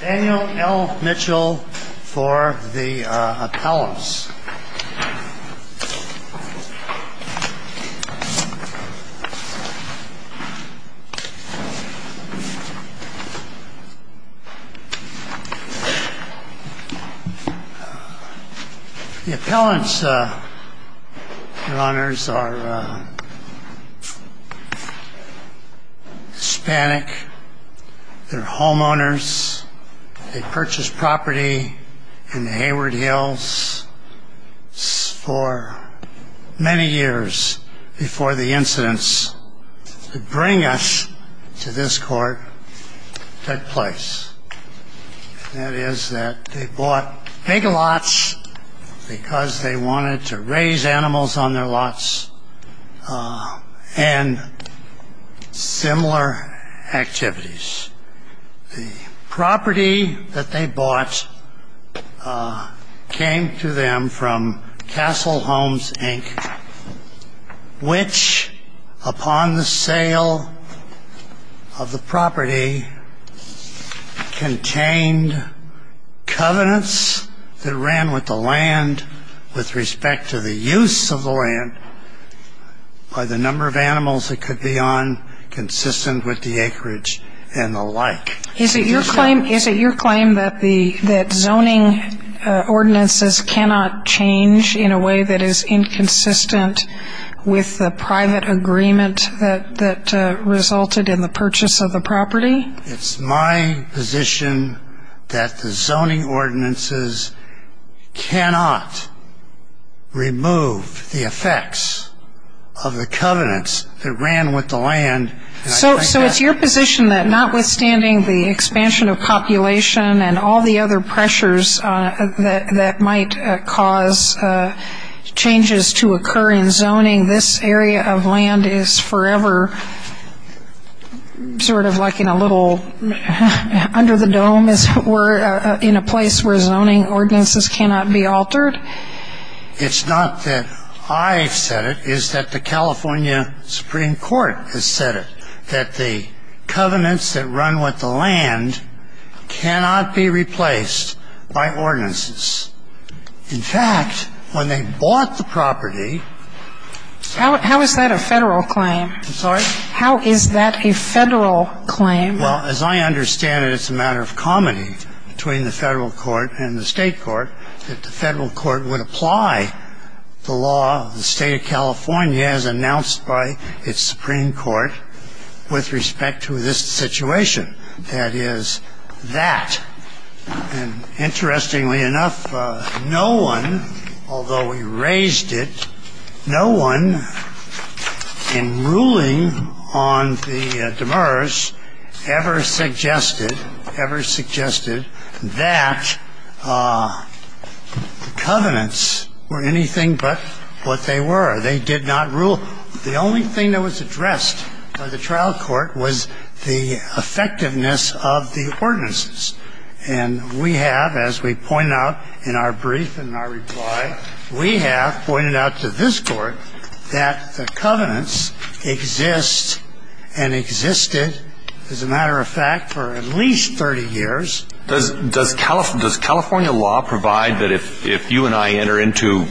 Daniel L. Mitchell for the appellants. The appellants, your honors, are Hispanic. They're homeowners. They purchased property in the Hayward Hills for many years before the incidents that bring us to this court took place. That is that they bought big lots because they wanted to raise animals on their property. They purchased property in the Hayward Hills for many years before the incidents that bring us to this court took place. That is that they purchased property in the Hayward Hills for many years before the incidents that bring us to this court took place. So it's your position that notwithstanding the expansion of population and all the other pressures that might cause changes to occur in zoning, this area of land is forever sort of like in a little under the dome, as it were, in a place where zoning ordinances cannot be altered? It's not that I've said it. It's that the California Supreme Court has said it, that the covenants that run with the land cannot be replaced by ordinances. In fact, when they bought the property… How is that a federal claim? I'm sorry? How is that a federal claim? Well, as I understand it, it's a matter of comedy between the federal court and the state court that the federal court would apply the law of the state of California as announced by its Supreme Court with respect to this situation. That is, that. And interestingly enough, no one, although we raised it, no one in ruling on the Demers ever suggested that the covenants were anything but what they were. They did not rule. The only thing that was addressed by the trial court was the effectiveness of the ordinances. And we have, as we point out in our brief and in our reply, we have pointed out to this court that the covenants exist and existed, as a matter of fact, for at least 30 years. Does California law provide that if you and I enter into…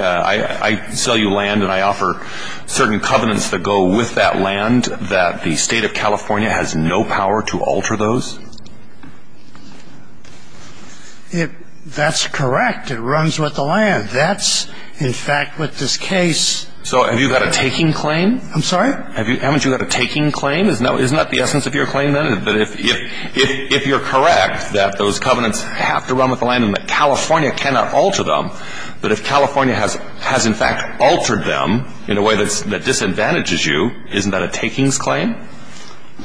I sell you land and I offer certain covenants that go with that land, that the state of California has no power to alter those? It — that's correct. It runs with the land. That's, in fact, what this case… So have you got a taking claim? I'm sorry? Haven't you got a taking claim? Isn't that the essence of your claim, then, that if you're correct that those covenants have to run with the land and that California cannot alter them, that if California has in fact altered them in a way that disadvantages you, isn't that a takings claim?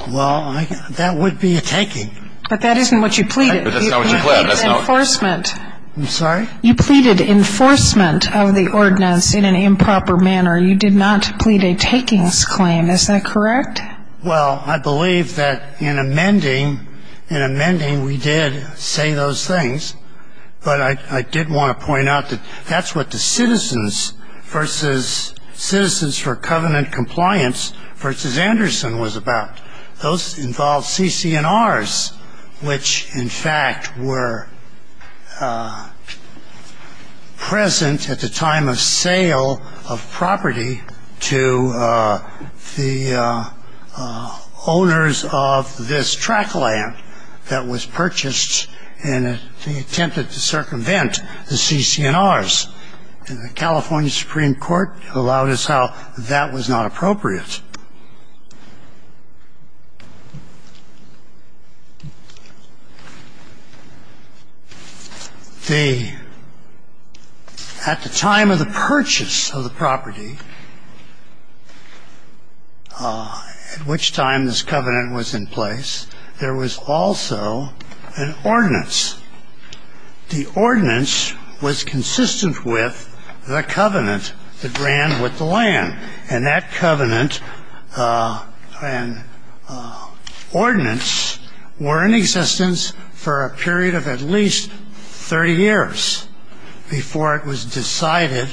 Well, that would be a taking. But that isn't what you pleaded. But that's not what you pleaded. You pleaded enforcement. I'm sorry? You pleaded enforcement of the ordinance in an improper manner. You did not plead a takings claim. Is that correct? Well, I believe that in amending — in amending, we did say those things. But I — I did want to point out that that's what the citizens versus citizens for covenant compliance versus Anderson was about. Those involved CC&Rs, which in fact were present at the time of sale of property to the owners of this track land that was purchased in the attempt to circumvent the CC&Rs. And the California Supreme Court allowed us how that was not appropriate. The — at the time of the purchase of the property, at which time this covenant was in place, there was also an ordinance. The ordinance was consistent with the covenant that ran with the land. And that covenant and ordinance were in existence for a period of at least 30 years before it was decided,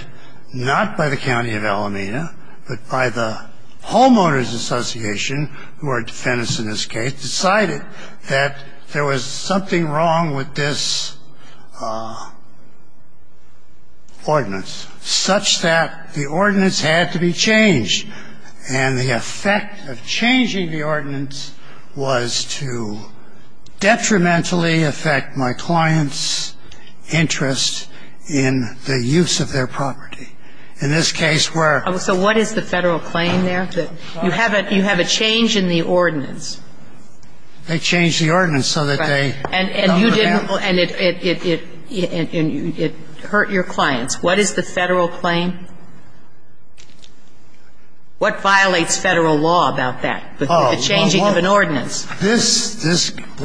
not by the County of Alameda, but by the Homeowners Association, who are defendants in this case, decided that there was something wrong with this ordinance, such that the ordinance had to be changed. And the effect of changing the ordinance was to detrimentally affect my client's interest in the use of their property. In this case, where — So what is the Federal claim there? You have a — you have a change in the ordinance. They changed the ordinance so that they — And you didn't — and it hurt your clients. What is the Federal claim? What violates Federal law about that, the changing of an ordinance? Oh, well, this —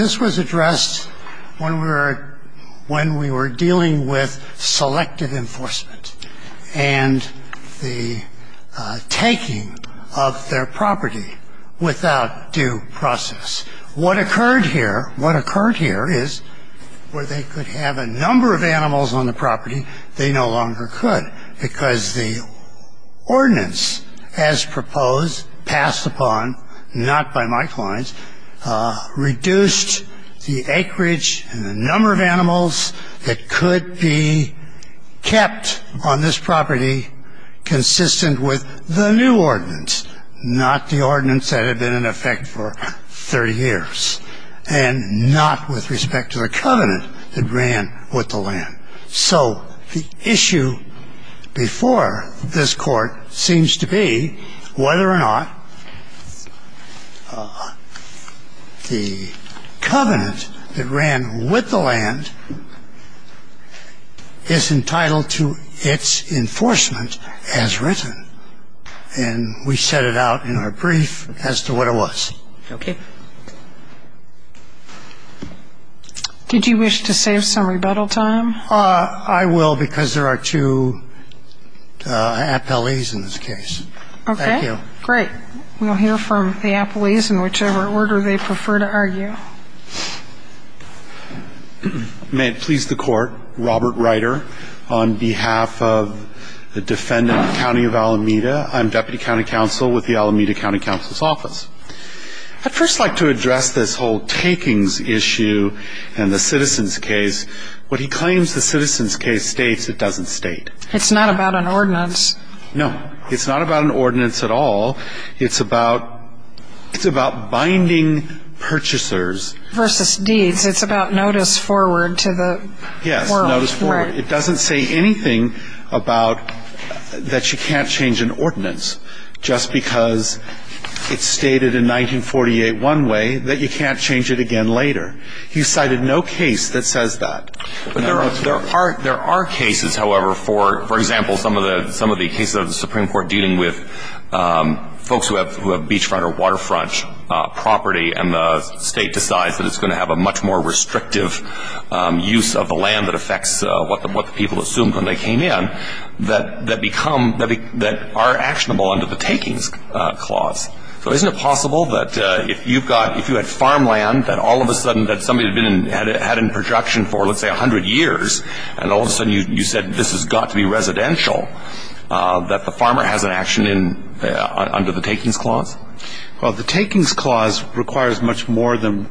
this was addressed when we were — when we were dealing with selective enforcement and the taking of their property without due process. What occurred here — what occurred here is where they could have a number of animals on the property, they no longer could, because the ordinance, as proposed, passed upon, not by my clients, reduced the acreage and the number of animals that could be kept on this property consistent with the new ordinance, not the ordinance that had been in effect for 30 years, and not with respect to the covenant that ran with the land. So the issue before this Court seems to be whether or not the covenant that ran with the land is entitled to its enforcement as written. And we set it out in our brief as to what it was. Okay. Did you wish to save some rebuttal time? I will, because there are two appellees in this case. Okay. Thank you. Great. We'll hear from the appellees in whichever order they prefer to argue. May it please the Court. Robert Ryder on behalf of the defendant, County of Alameda. I'm Deputy County Counsel with the Alameda County Counsel's Office. I'd first like to address this whole takings issue and the citizens case. What he claims the citizens case states, it doesn't state. It's not about an ordinance. No. It's not about an ordinance at all. It's about binding purchasers. Versus deeds. It's about notice forward to the world. Yes, notice forward. It doesn't say anything about that you can't change an ordinance, just because it's stated in 1948 one way that you can't change it again later. He's cited no case that says that. There are cases, however, for example, some of the cases of the Supreme Court dealing with folks who have beachfront or waterfront property, and the State decides that it's going to have a much more restrictive use of the land that affects what the people assumed when they came in, that are actionable under the takings clause. So isn't it possible that if you had farmland that all of a sudden that somebody had had in production for, let's say, 100 years, and all of a sudden you said this has got to be residential, that the farmer has an action under the takings clause? Well, the takings clause requires much more than.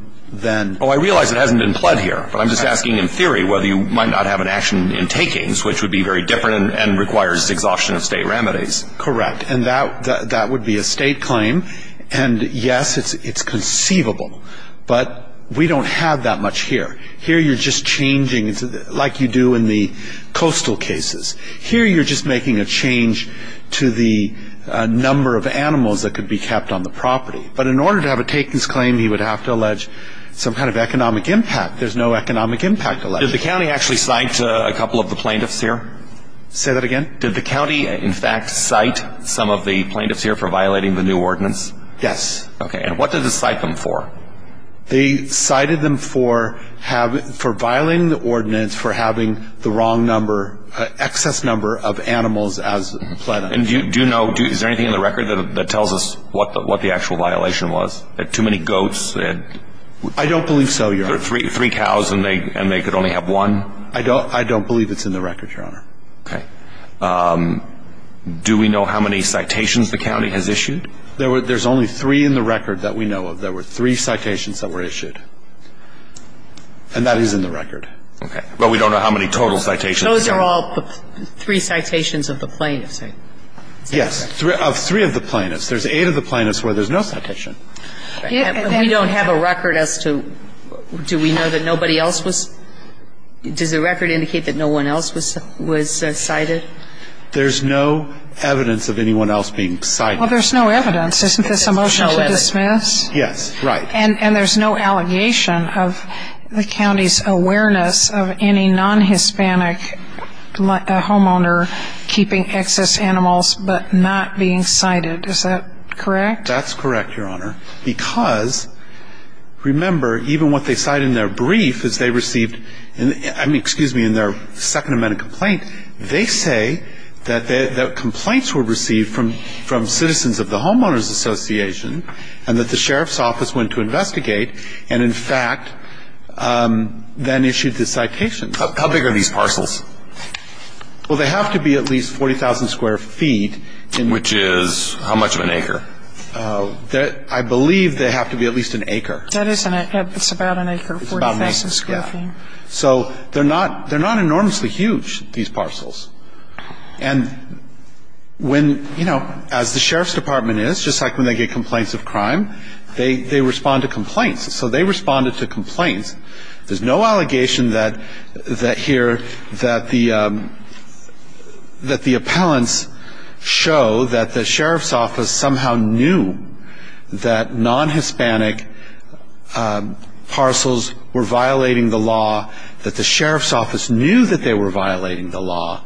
Oh, I realize it hasn't been pled here, but I'm just asking in theory whether you might not have an action in takings, which would be very different and requires exhaustion of State remedies. Correct. And that would be a State claim. And, yes, it's conceivable. But we don't have that much here. Here you're just changing, like you do in the coastal cases. Here you're just making a change to the number of animals that could be kept on the property. But in order to have a takings claim, you would have to allege some kind of economic impact. There's no economic impact alleged. Did the county actually cite a couple of the plaintiffs here? Say that again? Did the county, in fact, cite some of the plaintiffs here for violating the new ordinance? Yes. Okay. And what did it cite them for? They cited them for violating the ordinance for having the wrong number, excess number of animals as pled. And do you know, is there anything in the record that tells us what the actual violation was? Too many goats? I don't believe so, Your Honor. Three cows and they could only have one? I don't believe it's in the record, Your Honor. Okay. Do we know how many citations the county has issued? There's only three in the record that we know of. There were three citations that were issued. And that is in the record. Okay. But we don't know how many total citations. Those are all three citations of the plaintiffs, right? Yes. Of three of the plaintiffs. There's eight of the plaintiffs where there's no citation. We don't have a record as to, do we know that nobody else was? Does the record indicate that no one else was cited? There's no evidence of anyone else being cited. Well, there's no evidence. Isn't this a motion to dismiss? Yes. Right. And there's no allegation of the county's awareness of any non-Hispanic homeowner keeping excess animals but not being cited. Is that correct? That's correct, Your Honor. Because, remember, even what they cite in their brief is they received, excuse me, in their Second Amendment complaint, they say that complaints were received from citizens of the homeowners association and that the sheriff's office went to investigate and, in fact, then issued the citations. How big are these parcels? Well, they have to be at least 40,000 square feet. Which is how much of an acre? I believe they have to be at least an acre. It's about an acre, 40,000 square feet. So they're not enormously huge, these parcels. And when, you know, as the sheriff's department is, just like when they get complaints of crime, they respond to complaints. So they responded to complaints. There's no allegation here that the appellants show that the sheriff's office somehow knew that non-Hispanic parcels were violating the law, that the sheriff's office knew that they were violating the law,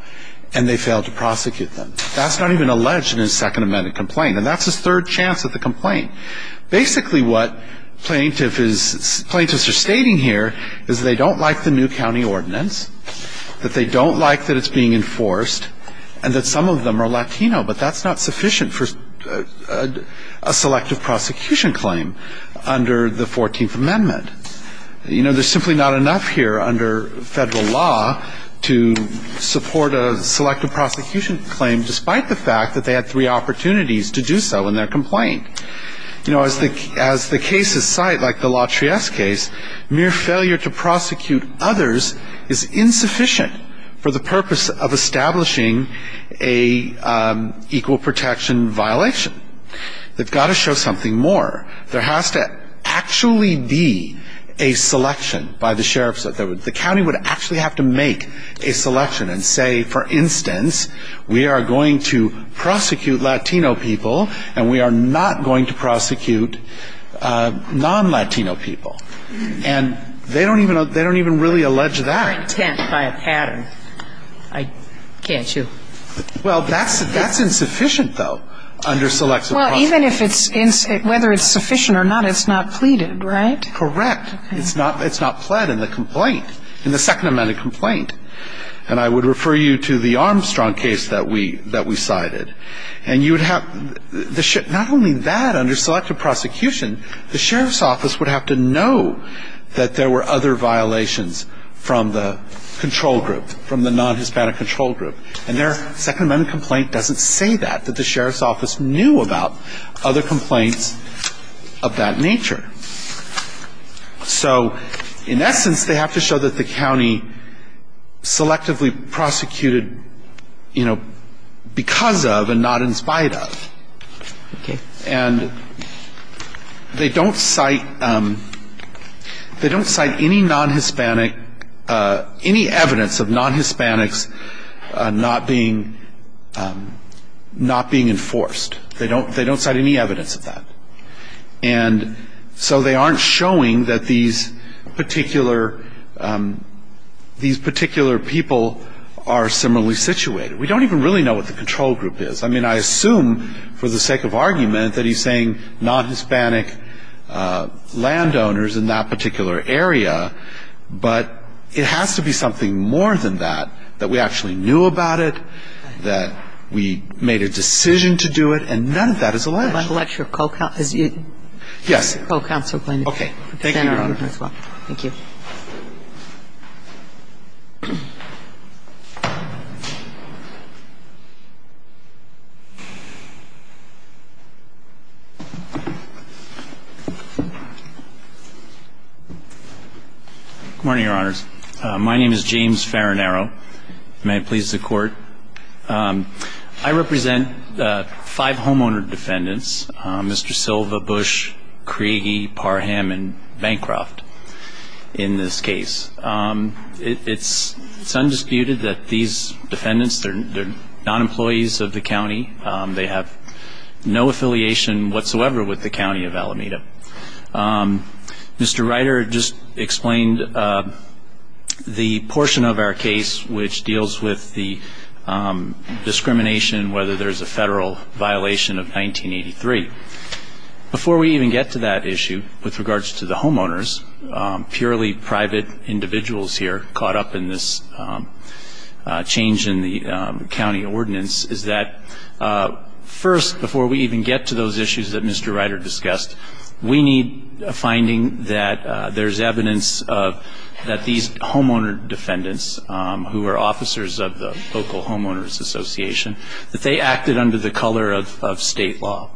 and they failed to prosecute them. That's not even alleged in his Second Amendment complaint. And that's his third chance at the complaint. Basically what plaintiffs are stating here is they don't like the new county ordinance, that they don't like that it's being enforced, and that some of them are Latino. But that's not sufficient for a selective prosecution claim under the 14th Amendment. You know, there's simply not enough here under federal law to support a selective prosecution claim, despite the fact that they had three opportunities to do so in their complaint. You know, as the cases cite, like the LaTrieste case, mere failure to prosecute others is insufficient for the purpose of establishing an equal protection violation. They've got to show something more. There has to actually be a selection by the sheriff's office. The county would actually have to make a selection and say, for instance, we are going to prosecute Latino people, and we are not going to prosecute non-Latino people. And they don't even really allege that. They're intent by a pattern. I can't show. Well, that's insufficient, though, under selective prosecution. Well, even if it's insufficient, whether it's sufficient or not, it's not pleaded, right? Correct. It's not pled in the complaint, in the Second Amendment complaint. And I would refer you to the Armstrong case that we cited. And you would have the ship. Not only that, under selective prosecution, the sheriff's office would have to know that there were other violations from the control group, from the non-Hispanic control group. And their Second Amendment complaint doesn't say that, that the sheriff's office knew about other complaints of that nature. So in essence, they have to show that the county selectively prosecuted, you know, because of and not in spite of. Okay. And they don't cite any non-Hispanic, any evidence of non-Hispanics not being enforced. They don't cite any evidence of that. And so they aren't showing that these particular people are similarly situated. We don't even really know what the control group is. I mean, I assume, for the sake of argument, that he's saying non-Hispanic landowners in that particular area. But it has to be something more than that, that we actually knew about it, that we made a decision to do it, and none of that is alleged. But that's your co-counsel. Yes. Co-counsel. Okay. Thank you, Your Honor. Thank you. Good morning, Your Honors. My name is James Farinaro. May it please the Court. I represent five homeowner defendants, Mr. Silva, Bush, Creagie, Parham, and Bancroft. In this case, it's undisputed that these defendants, they're non-employees of the county. They have no affiliation whatsoever with the county of Alameda. Mr. Reiter just explained the portion of our case which deals with the discrimination, whether there's a federal violation of 1983. Before we even get to that issue, with regards to the homeowners, purely private individuals here caught up in this change in the county ordinance, is that first, before we even get to those issues that Mr. Reiter discussed, we need a finding that there's evidence that these homeowner defendants, who are officers of the local homeowners association, that they acted under the color of state law.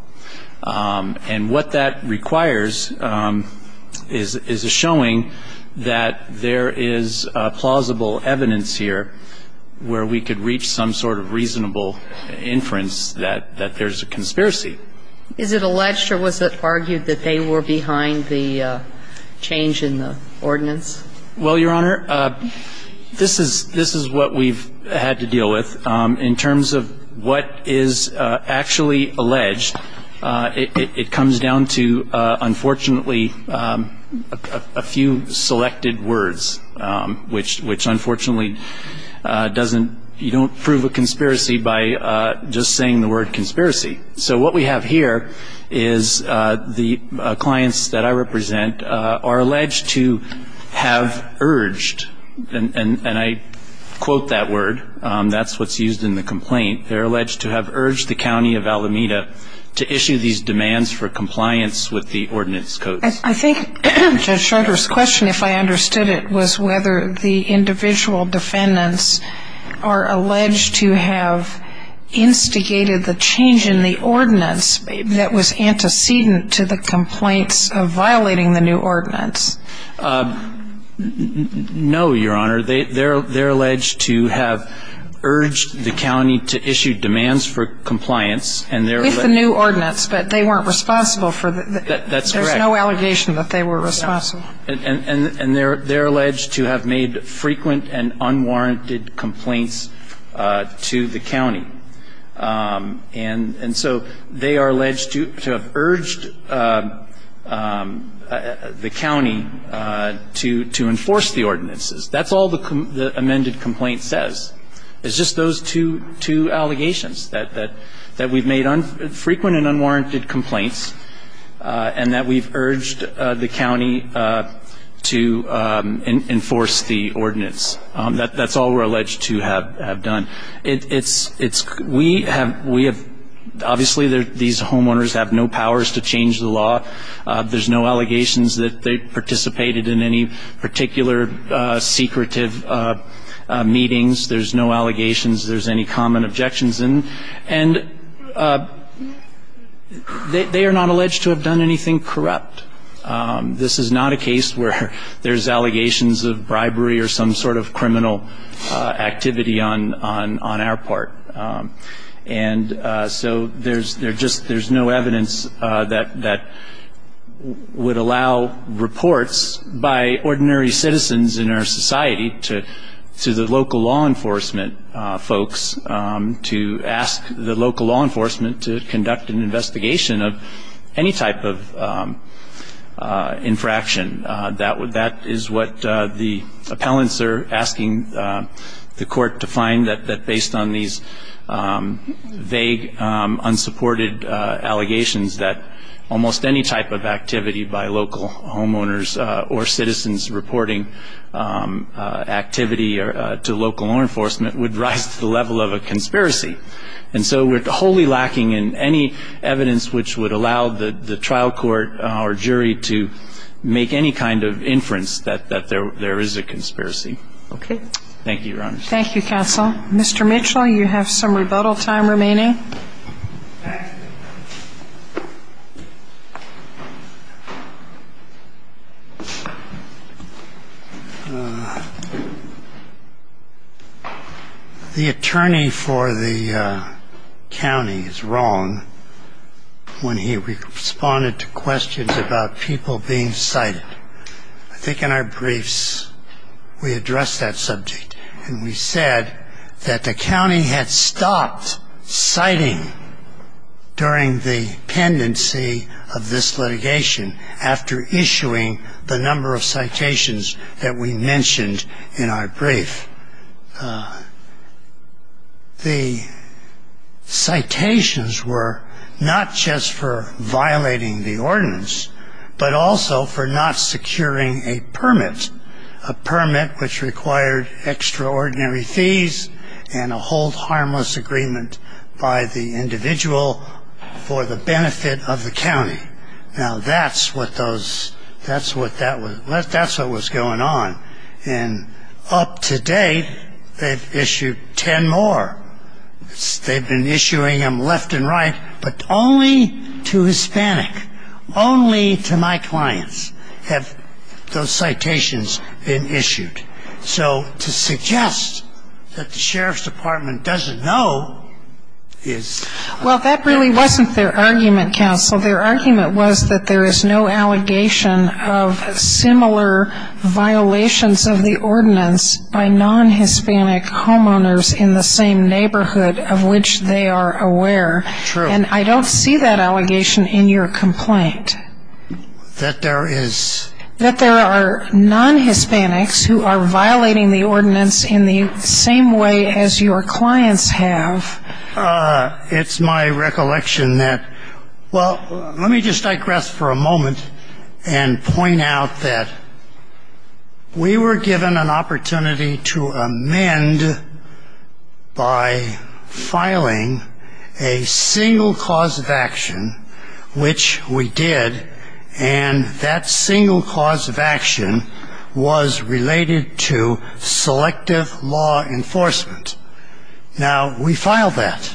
And what that requires is a showing that there is plausible evidence here where we could reach some sort of reasonable inference that there's a conspiracy. Is it alleged or was it argued that they were behind the change in the ordinance? Well, Your Honor, this is what we've had to deal with. In terms of what is actually alleged, it comes down to, unfortunately, a few selected words, which unfortunately doesn't, you don't prove a conspiracy by just saying the word conspiracy. So what we have here is the clients that I represent are alleged to have urged, and I quote that word, that's what's used in the complaint, they're alleged to have urged the county of Alameda to issue these demands for compliance with the ordinance codes. I think Judge Schroeder's question, if I understood it, was whether the individual defendants are alleged to have instigated the change in the ordinance that was antecedent to the complaints of violating the new ordinance. No, Your Honor. They're alleged to have urged the county to issue demands for compliance. With the new ordinance, but they weren't responsible for the, there's no allegation that they were responsible. And they're alleged to have made frequent and unwarranted complaints to the county. And so they are alleged to have urged the county to enforce the ordinances. That's all the amended complaint says. It's just those two allegations, that we've made frequent and unwarranted complaints, and that we've urged the county to enforce the ordinance. That's all we're alleged to have done. We have, obviously these homeowners have no powers to change the law. There's no allegations that they participated in any particular secretive meetings. There's no allegations there's any common objections. And they are not alleged to have done anything corrupt. This is not a case where there's allegations of bribery or some sort of criminal activity on our part. And so there's just, there's no evidence that would allow reports by ordinary citizens in our society to the local law enforcement folks, to ask the local law enforcement to conduct an investigation of any type of infraction. That is what the appellants are asking the court to find, that based on these vague, unsupported allegations, that almost any type of activity by local homeowners or citizens reporting infraction, activity to local law enforcement would rise to the level of a conspiracy. And so we're wholly lacking in any evidence which would allow the trial court or jury to make any kind of inference that there is a conspiracy. Thank you, Your Honor. Thank you, counsel. Mr. Mitchell, you have some rebuttal time remaining. The attorney for the county is wrong when he responded to questions about people being cited. I think in our briefs we addressed that subject and we said that the county had stopped citing during the pendency of this litigation after issuing the number of citations that we mentioned in our brief. The citations were not just for violating the ordinance, but also for not securing a permit, a permit which required extraordinary fees and a hold harmless agreement by the individual for the benefit of the county. Now, that's what those, that's what that was, that's what was going on. And up to date, they've issued ten more. They've been issuing them left and right, but only to Hispanic, only to my clients have those citations been issued. So to suggest that the sheriff's department doesn't know is... Well, that really wasn't their argument, counsel. Their argument was that there is no allegation of similar violations of the ordinance by non-Hispanic homeowners in the same neighborhood of which they are aware. True. And I don't see that allegation in your complaint. That there is. That there are non-Hispanics who are violating the ordinance in the same way as your clients have. It's my recollection that, well, let me just digress for a moment and point out that we were given an opportunity to amend by filing a single cause of action, which we did, and that single cause of action was related to selective law enforcement. Now, we filed that,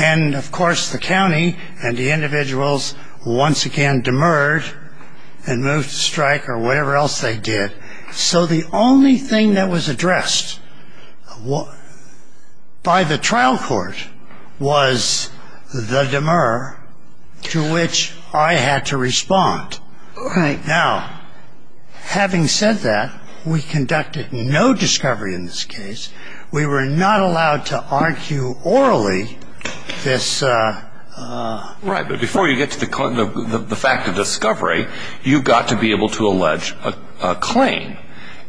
and, of course, the county and the individuals once again demurred and moved to strike or whatever else they did. So the only thing that was addressed by the trial court was the demur. To which I had to respond. Now, having said that, we conducted no discovery in this case. We were not allowed to argue orally this... Right, but before you get to the fact of discovery, you've got to be able to allege a claim.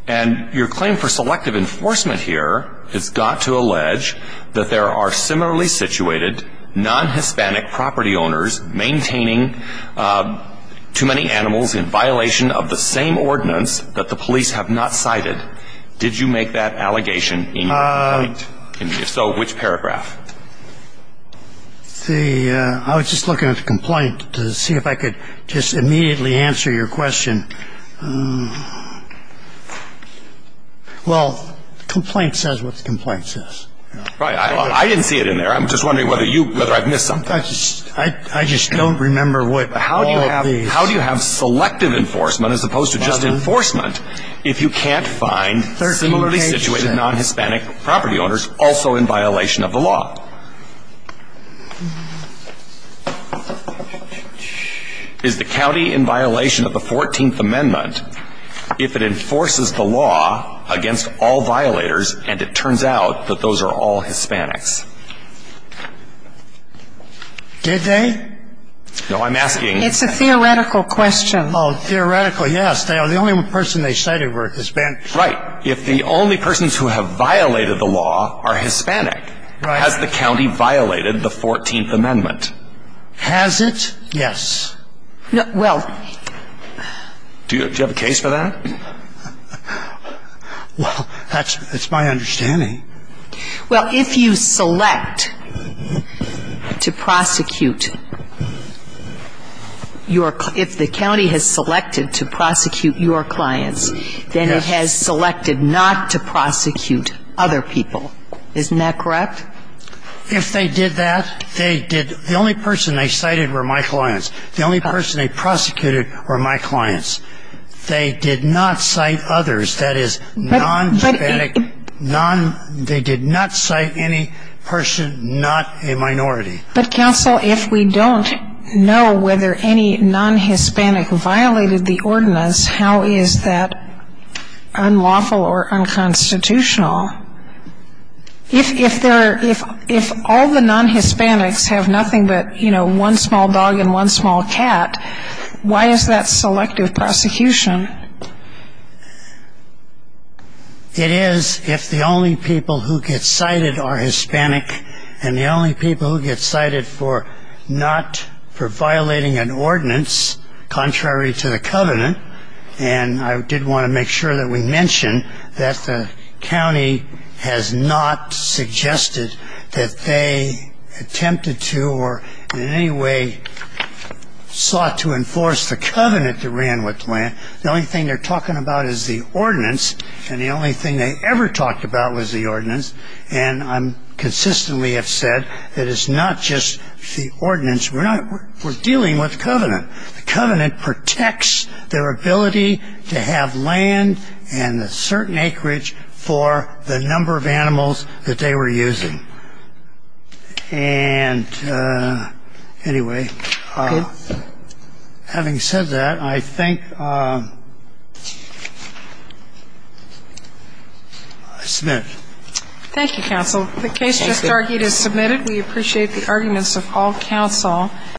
And your claim for selective enforcement here has got to allege that there are similarly situated non-Hispanic property owners maintaining too many animals in violation of the same ordinance that the police have not cited. Did you make that allegation in your complaint? If so, which paragraph? I was just looking at the complaint to see if I could just immediately answer your question. Well, the complaint says what the complaint says. Right. I didn't see it in there. I'm just wondering whether I've missed something. I just don't remember what all of these... I'm just wondering whether I've missed something. I'm just wondering whether I've missed something. Is the county in violation of the 14th Amendment, if it enforces the law against all violators, and it turns out that those are all Hispanics? Did they? No, I'm asking... It's a theoretical question. Oh, theoretical, yes. The only person they cited were Hispanics. Right. If the only persons who have violated the law are Hispanic, has the county violated the 14th Amendment? Has it? Yes. Do you have a case for that? Well, that's my understanding. Well, if you select to prosecute your... If the county has selected to prosecute your clients, then it has selected not to prosecute other people. Isn't that correct? If they did that, they did... The only person they cited were my clients. The only person they prosecuted were my clients. They did not cite others, that is, non-Hispanic, non... They did not cite any person, not a minority. But, counsel, if we don't know whether any non-Hispanic violated the ordinance, how is that unlawful or unconstitutional? If all the non-Hispanics have nothing but, you know, one small dog and one small cat, why is that selective prosecution? It is if the only people who get cited are Hispanic and the only people who get cited for not... for violating an ordinance contrary to the covenant. And I did want to make sure that we mention that the county has not suggested that they attempted to or in any way sought to enforce the covenant they ran with the land. The only thing they're talking about is the ordinance, and the only thing they ever talked about was the ordinance. And I consistently have said that it's not just the ordinance. We're dealing with the covenant. The covenant protects their ability to have land and a certain acreage for the number of animals that they were using. And, anyway, having said that, I think... I submit. Thank you, counsel. The case just argued is submitted. We appreciate the arguments of all counsel.